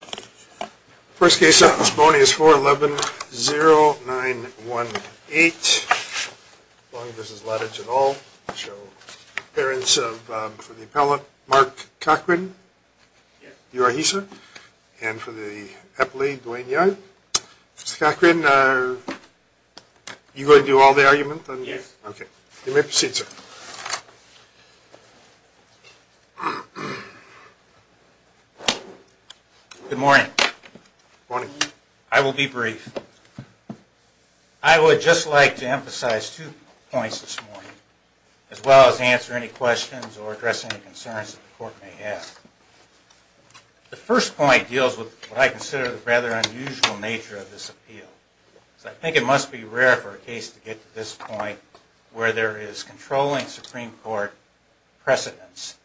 The first case of this morning is 4-11-0918. This is Ladage et al. Appearance for the appellant, Mark Cochran. You are he, sir? And for the appellee, Duane Young. Mr. Cochran, are you going to do all the argument? Yes. Okay. You may proceed, sir. Good morning. Good morning. I will be brief. I would just like to emphasize two points this morning, as well as answer any questions or address any concerns that the court may have. The first point deals with what I consider the rather unusual nature of this appeal. I think it must be rare for a case to get to this point where there is controlling Supreme Court precedence,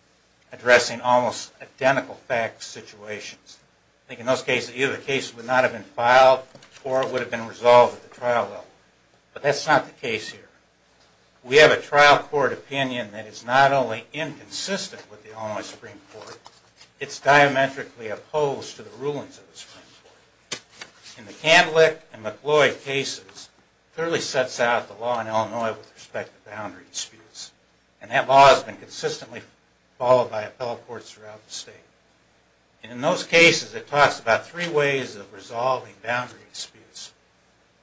addressing almost identical facts, situations. I think in those cases, either the case would not have been filed or it would have been resolved at the trial level. But that's not the case here. We have a trial court opinion that is not only inconsistent with the Illinois Supreme Court, it's diametrically opposed to the rulings of the Supreme Court. In the Candlick and McCloy cases, it clearly sets out the law in Illinois with respect to boundary disputes. And that law has been consistently followed by appellate courts throughout the state. And in those cases, it talks about three ways of resolving boundary disputes.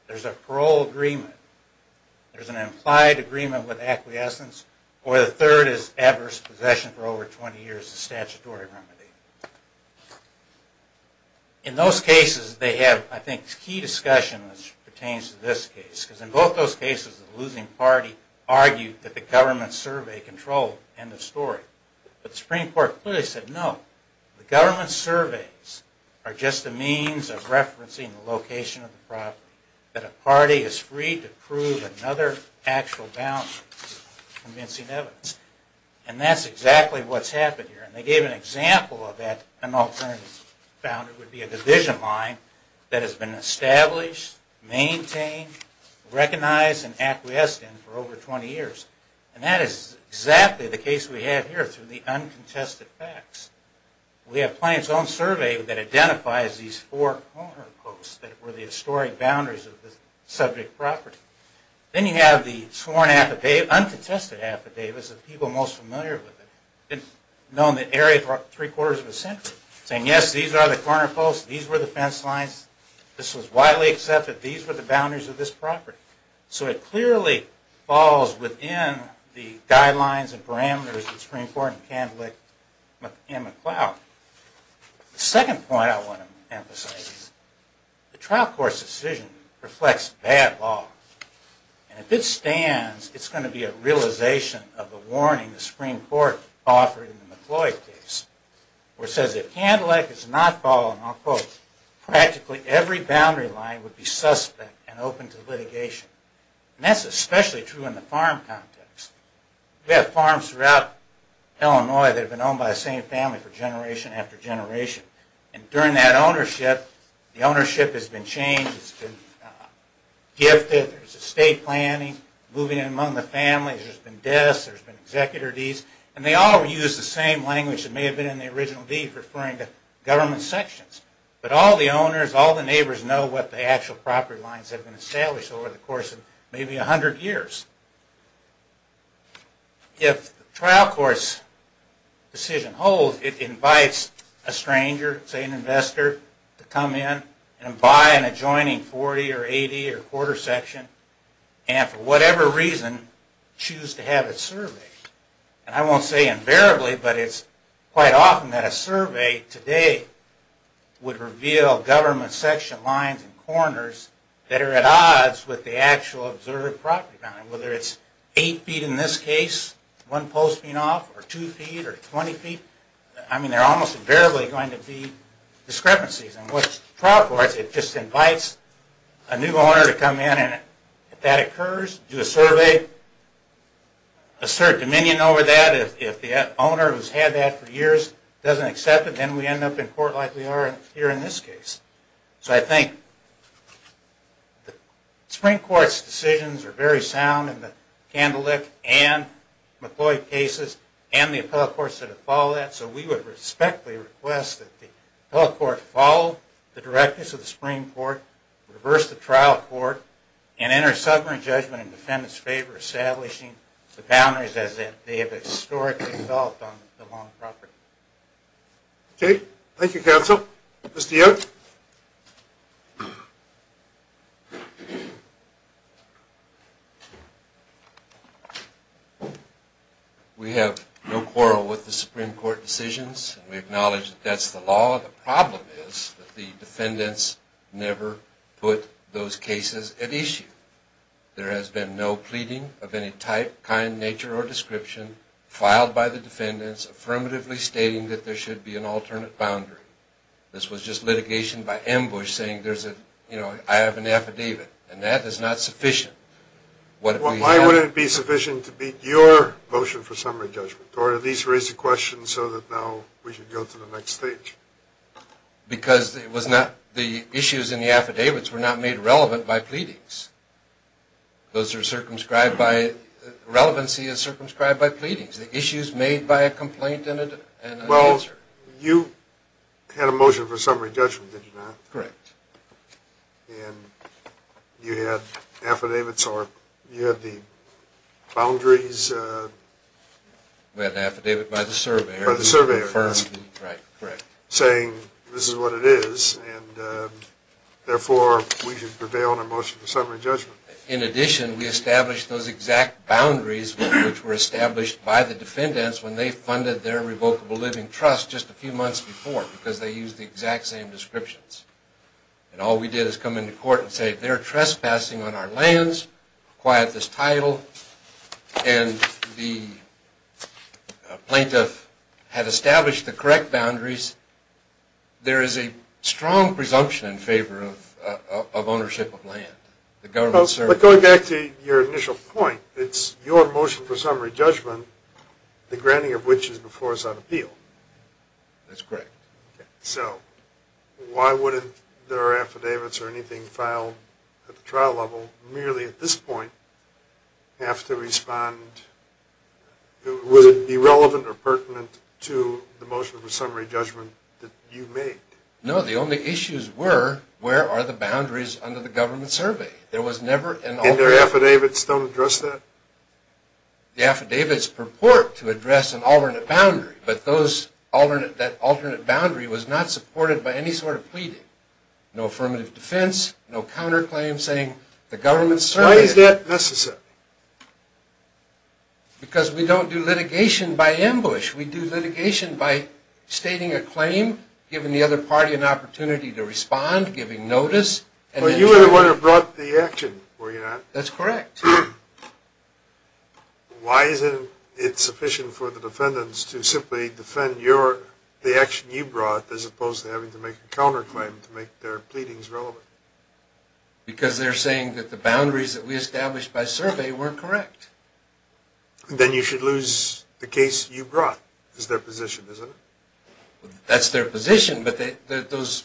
There's a parole agreement. There's an implied agreement with acquiescence. Or the third is adverse possession for over 20 years of statutory remedy. In those cases, they have, I think, key discussion which pertains to this case. Because in both those cases, the losing party argued that the government survey controlled. End of story. But the Supreme Court clearly said no. The government surveys are just a means of referencing the location of the property. That a party is free to prove another actual boundary. Convincing evidence. And that's exactly what's happened here. And they gave an example of that. An alternative boundary would be a division line that has been established, maintained, recognized, and acquiesced in for over 20 years. And that is exactly the case we have here through the uncontested facts. We have Plaintiff's Own Survey that identifies these four corner posts that were the historic boundaries of the subject property. Then you have the sworn affidavit, uncontested affidavit, as the people most familiar with it. Known the area for three quarters of a century. Saying, yes, these are the corner posts. These were the fence lines. This was widely accepted. These were the boundaries of this property. So it clearly falls within the guidelines and parameters of the Supreme Court and Candlewick and McLeod. The second point I want to emphasize is the trial court's decision reflects bad law. And if it stands, it's going to be a realization of the warning the Supreme Court offered in the McLeod case. Where it says, if Candlewick is not falling, I'll quote, practically every boundary line would be suspect and open to litigation. And that's especially true in the farm context. We have farms throughout Illinois that have been owned by the same family for generation after generation. And during that ownership, the ownership has been changed. It's been gifted. There's estate planning. Moving in among the families. There's been deaths. There's been executor deeds. And they all use the same language that may have been in the original deed, referring to government sections. But all the owners, all the neighbors know what the actual property lines have been established over the course of maybe 100 years. If the trial court's decision holds, it invites a stranger, say an investor, to come in and buy an adjoining 40 or 80 or quarter section. And for whatever reason, choose to have it surveyed. And I won't say invariably, but it's quite often that a survey today would reveal government section lines and corners that are at odds with the actual observed property line. Whether it's eight feet in this case, one post being off, or two feet, or 20 feet. I mean, there are almost invariably going to be discrepancies. And what the trial court does, it just invites a new owner to come in and if that occurs, do a survey, assert dominion over that. If the owner who's had that for years doesn't accept it, then we end up in court like we are here in this case. So I think the Supreme Court's decisions are very sound in the Candlewick and McCloy cases and the appellate courts that have followed that. So we would respectfully request that the appellate court follow the directives of the Supreme Court, reverse the trial court, and enter sovereign judgment in defendant's favor, establishing the boundaries as they have historically felt on the loan property. Okay. Thank you, counsel. Mr. Yoke? We have no quarrel with the Supreme Court decisions. We acknowledge that that's the law. The problem is that the defendants never put those cases at issue. There has been no pleading of any type, kind, nature, or description filed by the defendants affirmatively stating that there should be an alternate boundary. This was just litigation by ambush saying, you know, I have an affidavit. And that is not sufficient. Why wouldn't it be sufficient to beat your motion for summary judgment or at least raise the question so that now we can go to the next stage? Because it was not the issues in the affidavits were not made relevant by pleadings. Those are circumscribed by – relevancy is circumscribed by pleadings. The issue is made by a complaint and an answer. Well, you had a motion for summary judgment, did you not? Correct. And you had affidavits or you had the boundaries? We had an affidavit by the surveyor. By the surveyor. Right, correct. Saying this is what it is and therefore we should prevail on a motion for summary judgment. In addition, we established those exact boundaries which were established by the defendants when they funded their revocable living trust just a few months before because they used the exact same descriptions. And all we did is come into court and say they're trespassing on our lands, quiet this title, and the plaintiff had established the correct boundaries. There is a strong presumption in favor of ownership of land. But going back to your initial point, it's your motion for summary judgment, the granting of which is before us on appeal. That's correct. So why wouldn't there are affidavits or anything filed at the trial level merely at this point have to respond? Would it be relevant or pertinent to the motion for summary judgment that you made? No, the only issues were where are the boundaries under the government survey? And their affidavits don't address that? The affidavits purport to address an alternate boundary, but that alternate boundary was not supported by any sort of pleading. No affirmative defense, no counterclaim saying the government surveyed it. Why is that necessary? Because we don't do litigation by ambush. We do litigation by stating a claim, giving the other party an opportunity to respond, giving notice. But you were the one who brought the action, were you not? That's correct. Why isn't it sufficient for the defendants to simply defend the action you brought as opposed to having to make a counterclaim to make their pleadings relevant? Because they're saying that the boundaries that we established by survey were correct. Then you should lose the case you brought is their position, isn't it? That's their position, but those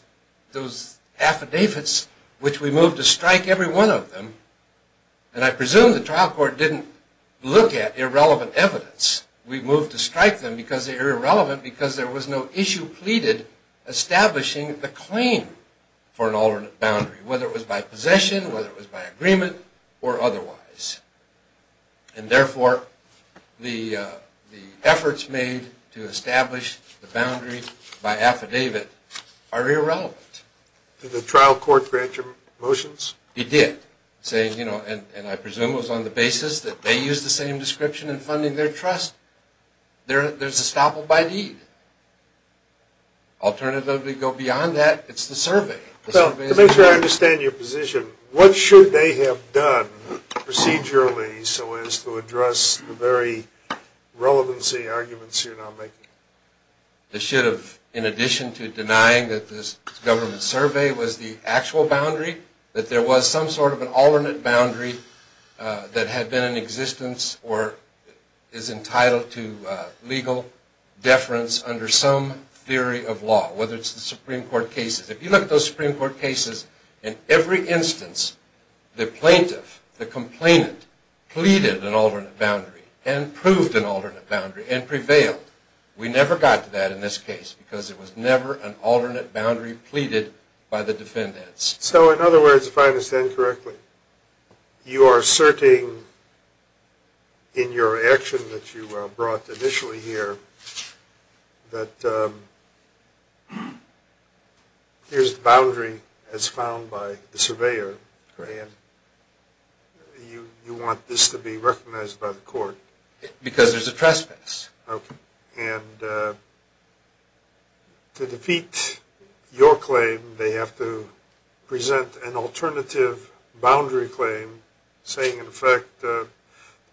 affidavits which we moved to strike every one of them, and I presume the trial court didn't look at irrelevant evidence. We moved to strike them because they were irrelevant because there was no issue pleaded establishing the claim for an alternate boundary, whether it was by possession, whether it was by agreement, or otherwise. And therefore, the efforts made to establish the boundary by affidavit are irrelevant. Did the trial court grant your motions? It did. And I presume it was on the basis that they used the same description in funding their trust. There's a staple by deed. Alternatively, go beyond that, it's the survey. Well, to make sure I understand your position, what should they have done procedurally so as to address the very relevancy arguments you're now making? They should have, in addition to denying that this government survey was the actual boundary, that there was some sort of an alternate boundary that had been in existence or is entitled to legal deference under some theory of law, whether it's the Supreme Court cases. If you look at those Supreme Court cases, in every instance the plaintiff, the complainant, pleaded an alternate boundary and proved an alternate boundary and prevailed. We never got to that in this case because there was never an alternate boundary pleaded by the defendants. So in other words, if I understand correctly, you are asserting in your action that you brought initially here that here's the boundary as found by the surveyor. Correct. And you want this to be recognized by the court? Because there's a trespass. Okay. And to defeat your claim, they have to present an alternative boundary claim, saying in effect,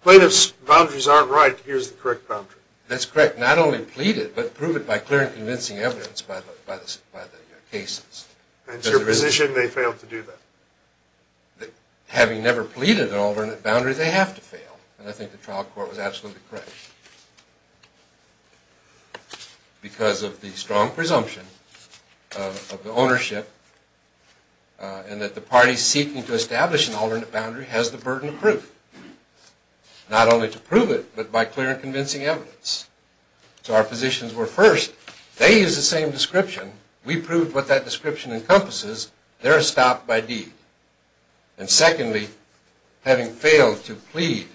plaintiff's boundaries aren't right, here's the correct boundary. That's correct. Not only pleaded, but prove it by clear and convincing evidence by the cases. And to your position, they failed to do that? Having never pleaded an alternate boundary, they have to fail. And I think the trial court was absolutely correct. Because of the strong presumption of the ownership and that the parties seeking to establish an alternate boundary has the burden of proof. Not only to prove it, but by clear and convincing evidence. So our positions were first, they use the same description. We proved what that description encompasses. They're stopped by deed. And secondly, having failed to plead,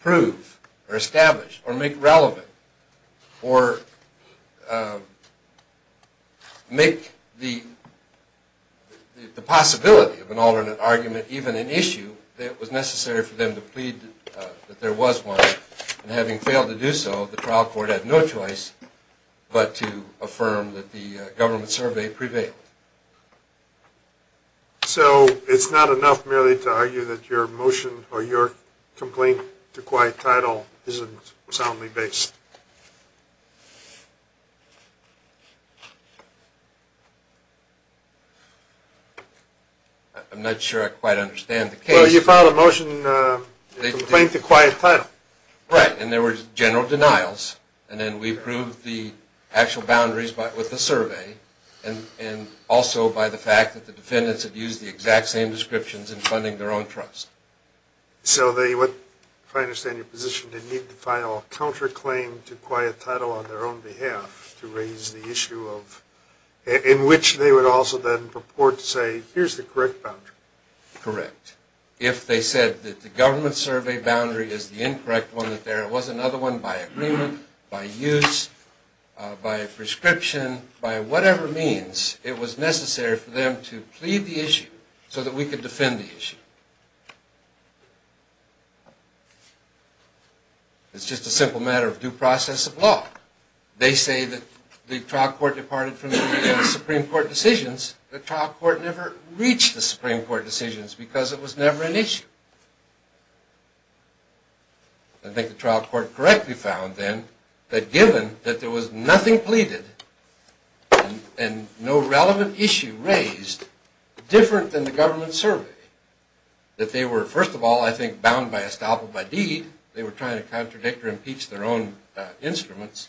prove, or establish, or make relevant, or make the possibility of an alternate argument even an issue, it was necessary for them to plead that there was one. And having failed to do so, the trial court had no choice but to affirm that the government survey prevailed. So it's not enough merely to argue that your motion or your complaint to quiet title isn't soundly based? I'm not sure I quite understand the case. Well, you filed a motion to complaint to quiet title. Right, and there were general denials. And then we proved the actual boundaries with the survey. And also by the fact that the defendants had used the exact same descriptions in funding their own trust. So they would, if I understand your position, they need to file a counterclaim to quiet title on their own behalf to raise the issue of, in which they would also then purport to say, here's the correct boundary. Correct. If they said that the government survey boundary is the incorrect one, that there was another one by agreement, by use, by a prescription, by whatever means it was necessary for them to plead the issue so that we could defend the issue. It's just a simple matter of due process of law. They say that the trial court departed from the Supreme Court decisions. The trial court never reached the Supreme Court decisions because it was never an issue. I think the trial court correctly found then that given that there was nothing pleaded and no relevant issue raised, different than the government survey, that they were, first of all, I think, bound by estoppel by deed. They were trying to contradict or impeach their own instruments.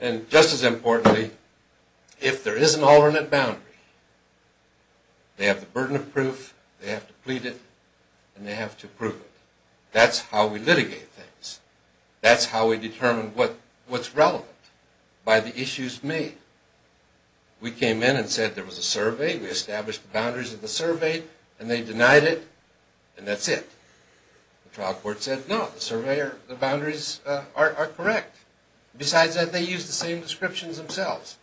And just as importantly, if there is an alternate boundary, they have the burden of proof, they have to plead it, and they have to prove it. That's how we litigate things. That's how we determine what's relevant by the issues made. We came in and said there was a survey, we established the boundaries of the survey, and they denied it, and that's it. The trial court said, no, the boundaries are correct. Besides that, they used the same descriptions themselves.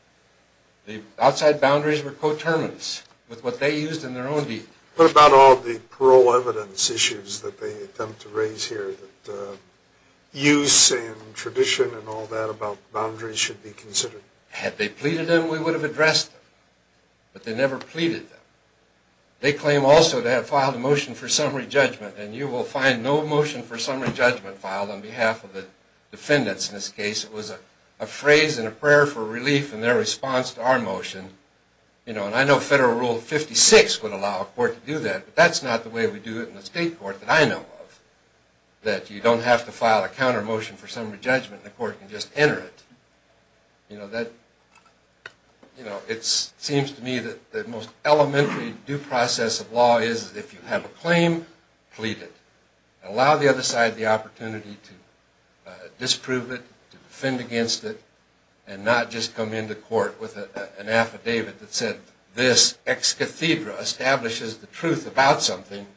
The outside boundaries were co-terminants with what they used in their own deed. What about all the parole evidence issues that they attempt to raise here, that use and tradition and all that about boundaries should be considered? Had they pleaded them, we would have addressed them. But they never pleaded them. They claim also they have filed a motion for summary judgment, and you will find no motion for summary judgment filed on behalf of the defendants in this case. It was a phrase and a prayer for relief in their response to our motion. I know Federal Rule 56 would allow a court to do that, but that's not the way we do it in the state court that I know of, that you don't have to file a counter motion for summary judgment, the court can just enter it. It seems to me that the most elementary due process of law is if you have a claim, plead it. Allow the other side the opportunity to disprove it, to defend against it, and not just come into court with an affidavit that said, this ex cathedra establishes the truth about something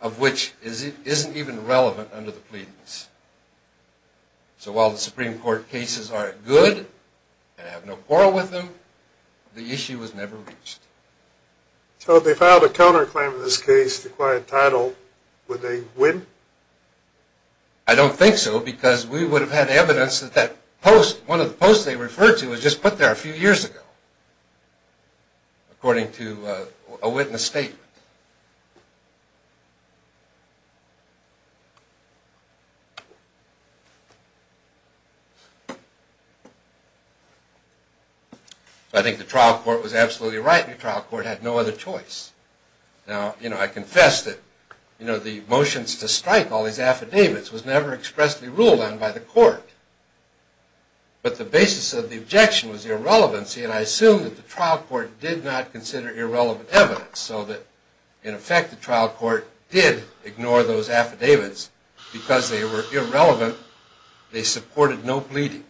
of which it isn't even relevant under the pleadings. So while the Supreme Court cases are good and have no quarrel with them, the issue was never reached. So if they filed a counter claim in this case to acquire a title, would they win? I don't think so because we would have had evidence that that post, one of the posts they referred to was just put there a few years ago, according to a witness statement. I think the trial court was absolutely right, the trial court had no other choice. Now, I confess that the motions to strike all these affidavits was never expressly ruled on by the court. But the basis of the objection was irrelevancy, and I assume that the trial court did not consider irrelevant evidence, so that in effect the trial court did ignore those affidavits because they were irrelevant. They supported no pleading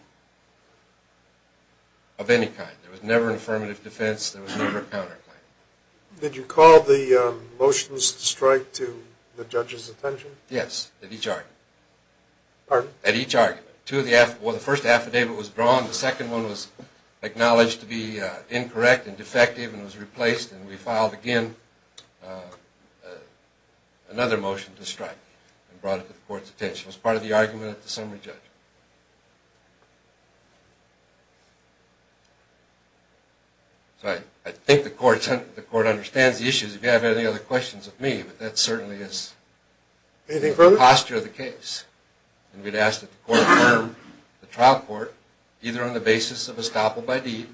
of any kind. There was never an affirmative defense, there was never a counter claim. Did you call the motions to strike to the judge's attention? Yes, at each argument. At each argument. The first affidavit was drawn, the second one was acknowledged to be incorrect and defective and was replaced, and we filed again another motion to strike and brought it to the court's attention. It was part of the argument at the summary judgment. I think the court understands the issues. If you have any other questions of me, that certainly is the posture of the case. We'd ask that the court affirm the trial court, either on the basis of estoppel by deed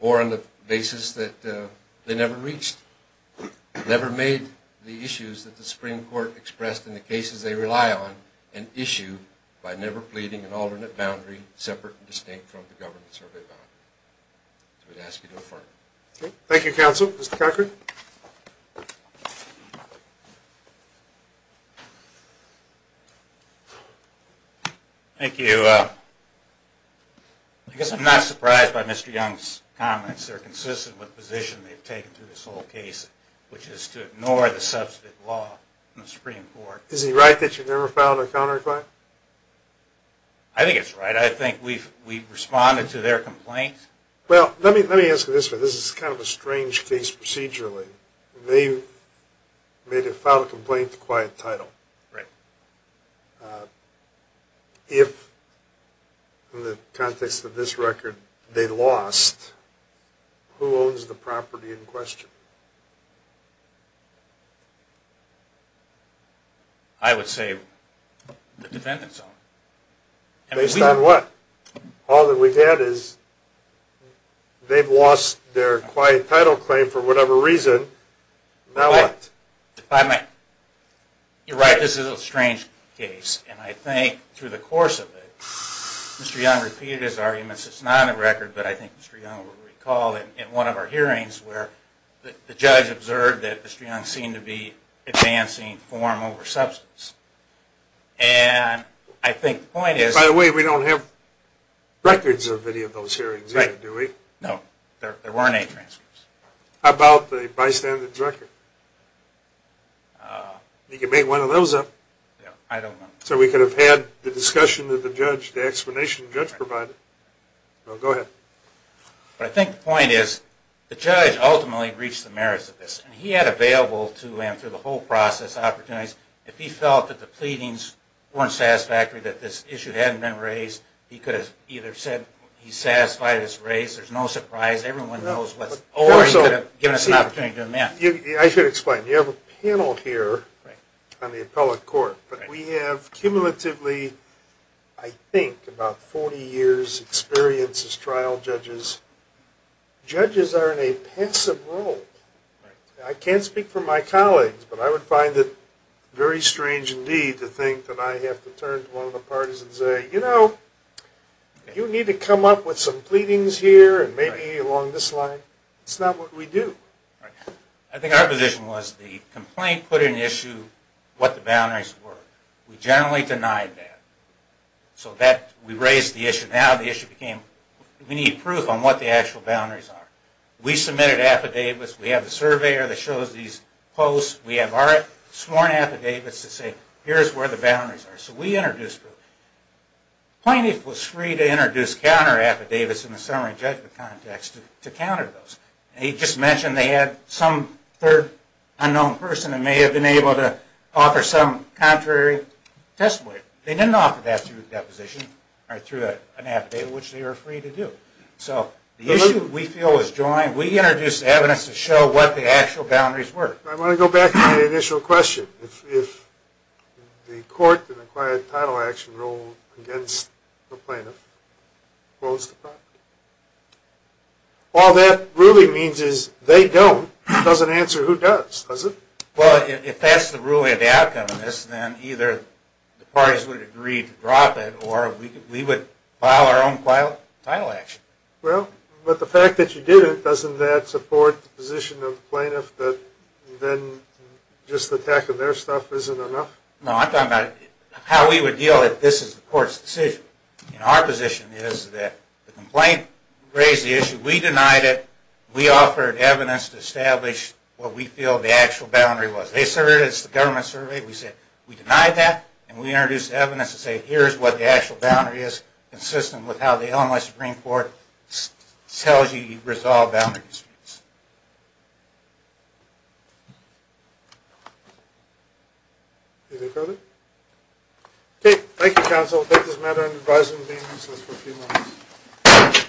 or on the basis that they never reached, never made the issues that the Supreme Court expressed in the cases they rely on an issue by never pleading an alternate boundary separate and distinct from the government survey boundary. We'd ask you to affirm. Thank you, counsel. Mr. Cochran. Thank you. I guess I'm not surprised by Mr. Young's comments. They're consistent with the position they've taken through this whole case, which is to ignore the substantive law in the Supreme Court. Is he right that you never filed a counterclaim? I think it's right. I think we've responded to their complaint. Well, let me ask you this. This is kind of a strange case procedurally. They made a filed complaint to quiet title. Right. If, in the context of this record, they lost, who owns the property in question? I would say the defendant's own. Based on what? All that we've had is they've lost their quiet title claim for whatever reason. Now what? You're right. This is a strange case. And I think through the course of it, Mr. Young repeated his arguments. It's not on the record, but I think Mr. Young will recall in one of our hearings where the judge observed that Mr. Young seemed to be advancing form over substance. And I think the point is... By the way, we don't have records of any of those hearings either, do we? No. There weren't any transcripts. How about the bystander's record? You can make one of those up. So we could have had the discussion that the judge, the explanation the judge provided. Go ahead. But I think the point is the judge ultimately reached the merits of this. And he had available to him through the whole process opportunities. If he felt that the pleadings weren't satisfactory, that this issue hadn't been raised, he could have either said he's satisfied it's raised, there's no surprise, everyone knows what's... Or he could have given us an opportunity to amend. I should explain. You have a panel here on the appellate court. But we have cumulatively, I think, about 40 years' experience as trial judges. Judges are in a passive role. I can't speak for my colleagues, but I would find it very strange indeed to think that I have to turn to one of the parties and say, you know, you need to come up with some pleadings here, and maybe along this line. It's not what we do. I think our position was the complaint put in issue what the boundaries were. We generally denied that. So we raised the issue. Now the issue became, we need proof on what the actual boundaries are. We submitted affidavits. We have a surveyor that shows these posts. We have sworn affidavits that say, here's where the boundaries are. So we introduced proof. Plaintiff was free to introduce counter affidavits in the summary judgment context to counter those. He just mentioned they had some third unknown person that may have been able to offer some contrary testimony. They didn't offer that through a deposition or through an affidavit, which they were free to do. So the issue we feel is joint. We introduced evidence to show what the actual boundaries were. I want to go back to my initial question. If the court in a quiet, title action rule against a plaintiff, what was the problem? All that really means is they don't. It doesn't answer who does, does it? Well, if that's the ruling of the outcome of this, then either the parties would agree to drop it or we would file our own title action. Well, but the fact that you did it, doesn't that support the position of the plaintiff that then just the attack of their stuff isn't enough? No, I'm talking about how we would deal if this is the court's decision. Our position is that the complaint raised the issue. We denied it. We offered evidence to establish what we feel the actual boundary was. They surveyed us, the government surveyed us. We denied that, and we introduced evidence to say, here's what the actual boundary is, consistent with how the Illinois Supreme Court tells you you resolve boundary disputes. Anything further? Okay, thank you, counsel. I'll take this matter into advisory convening, so it's for a few moments.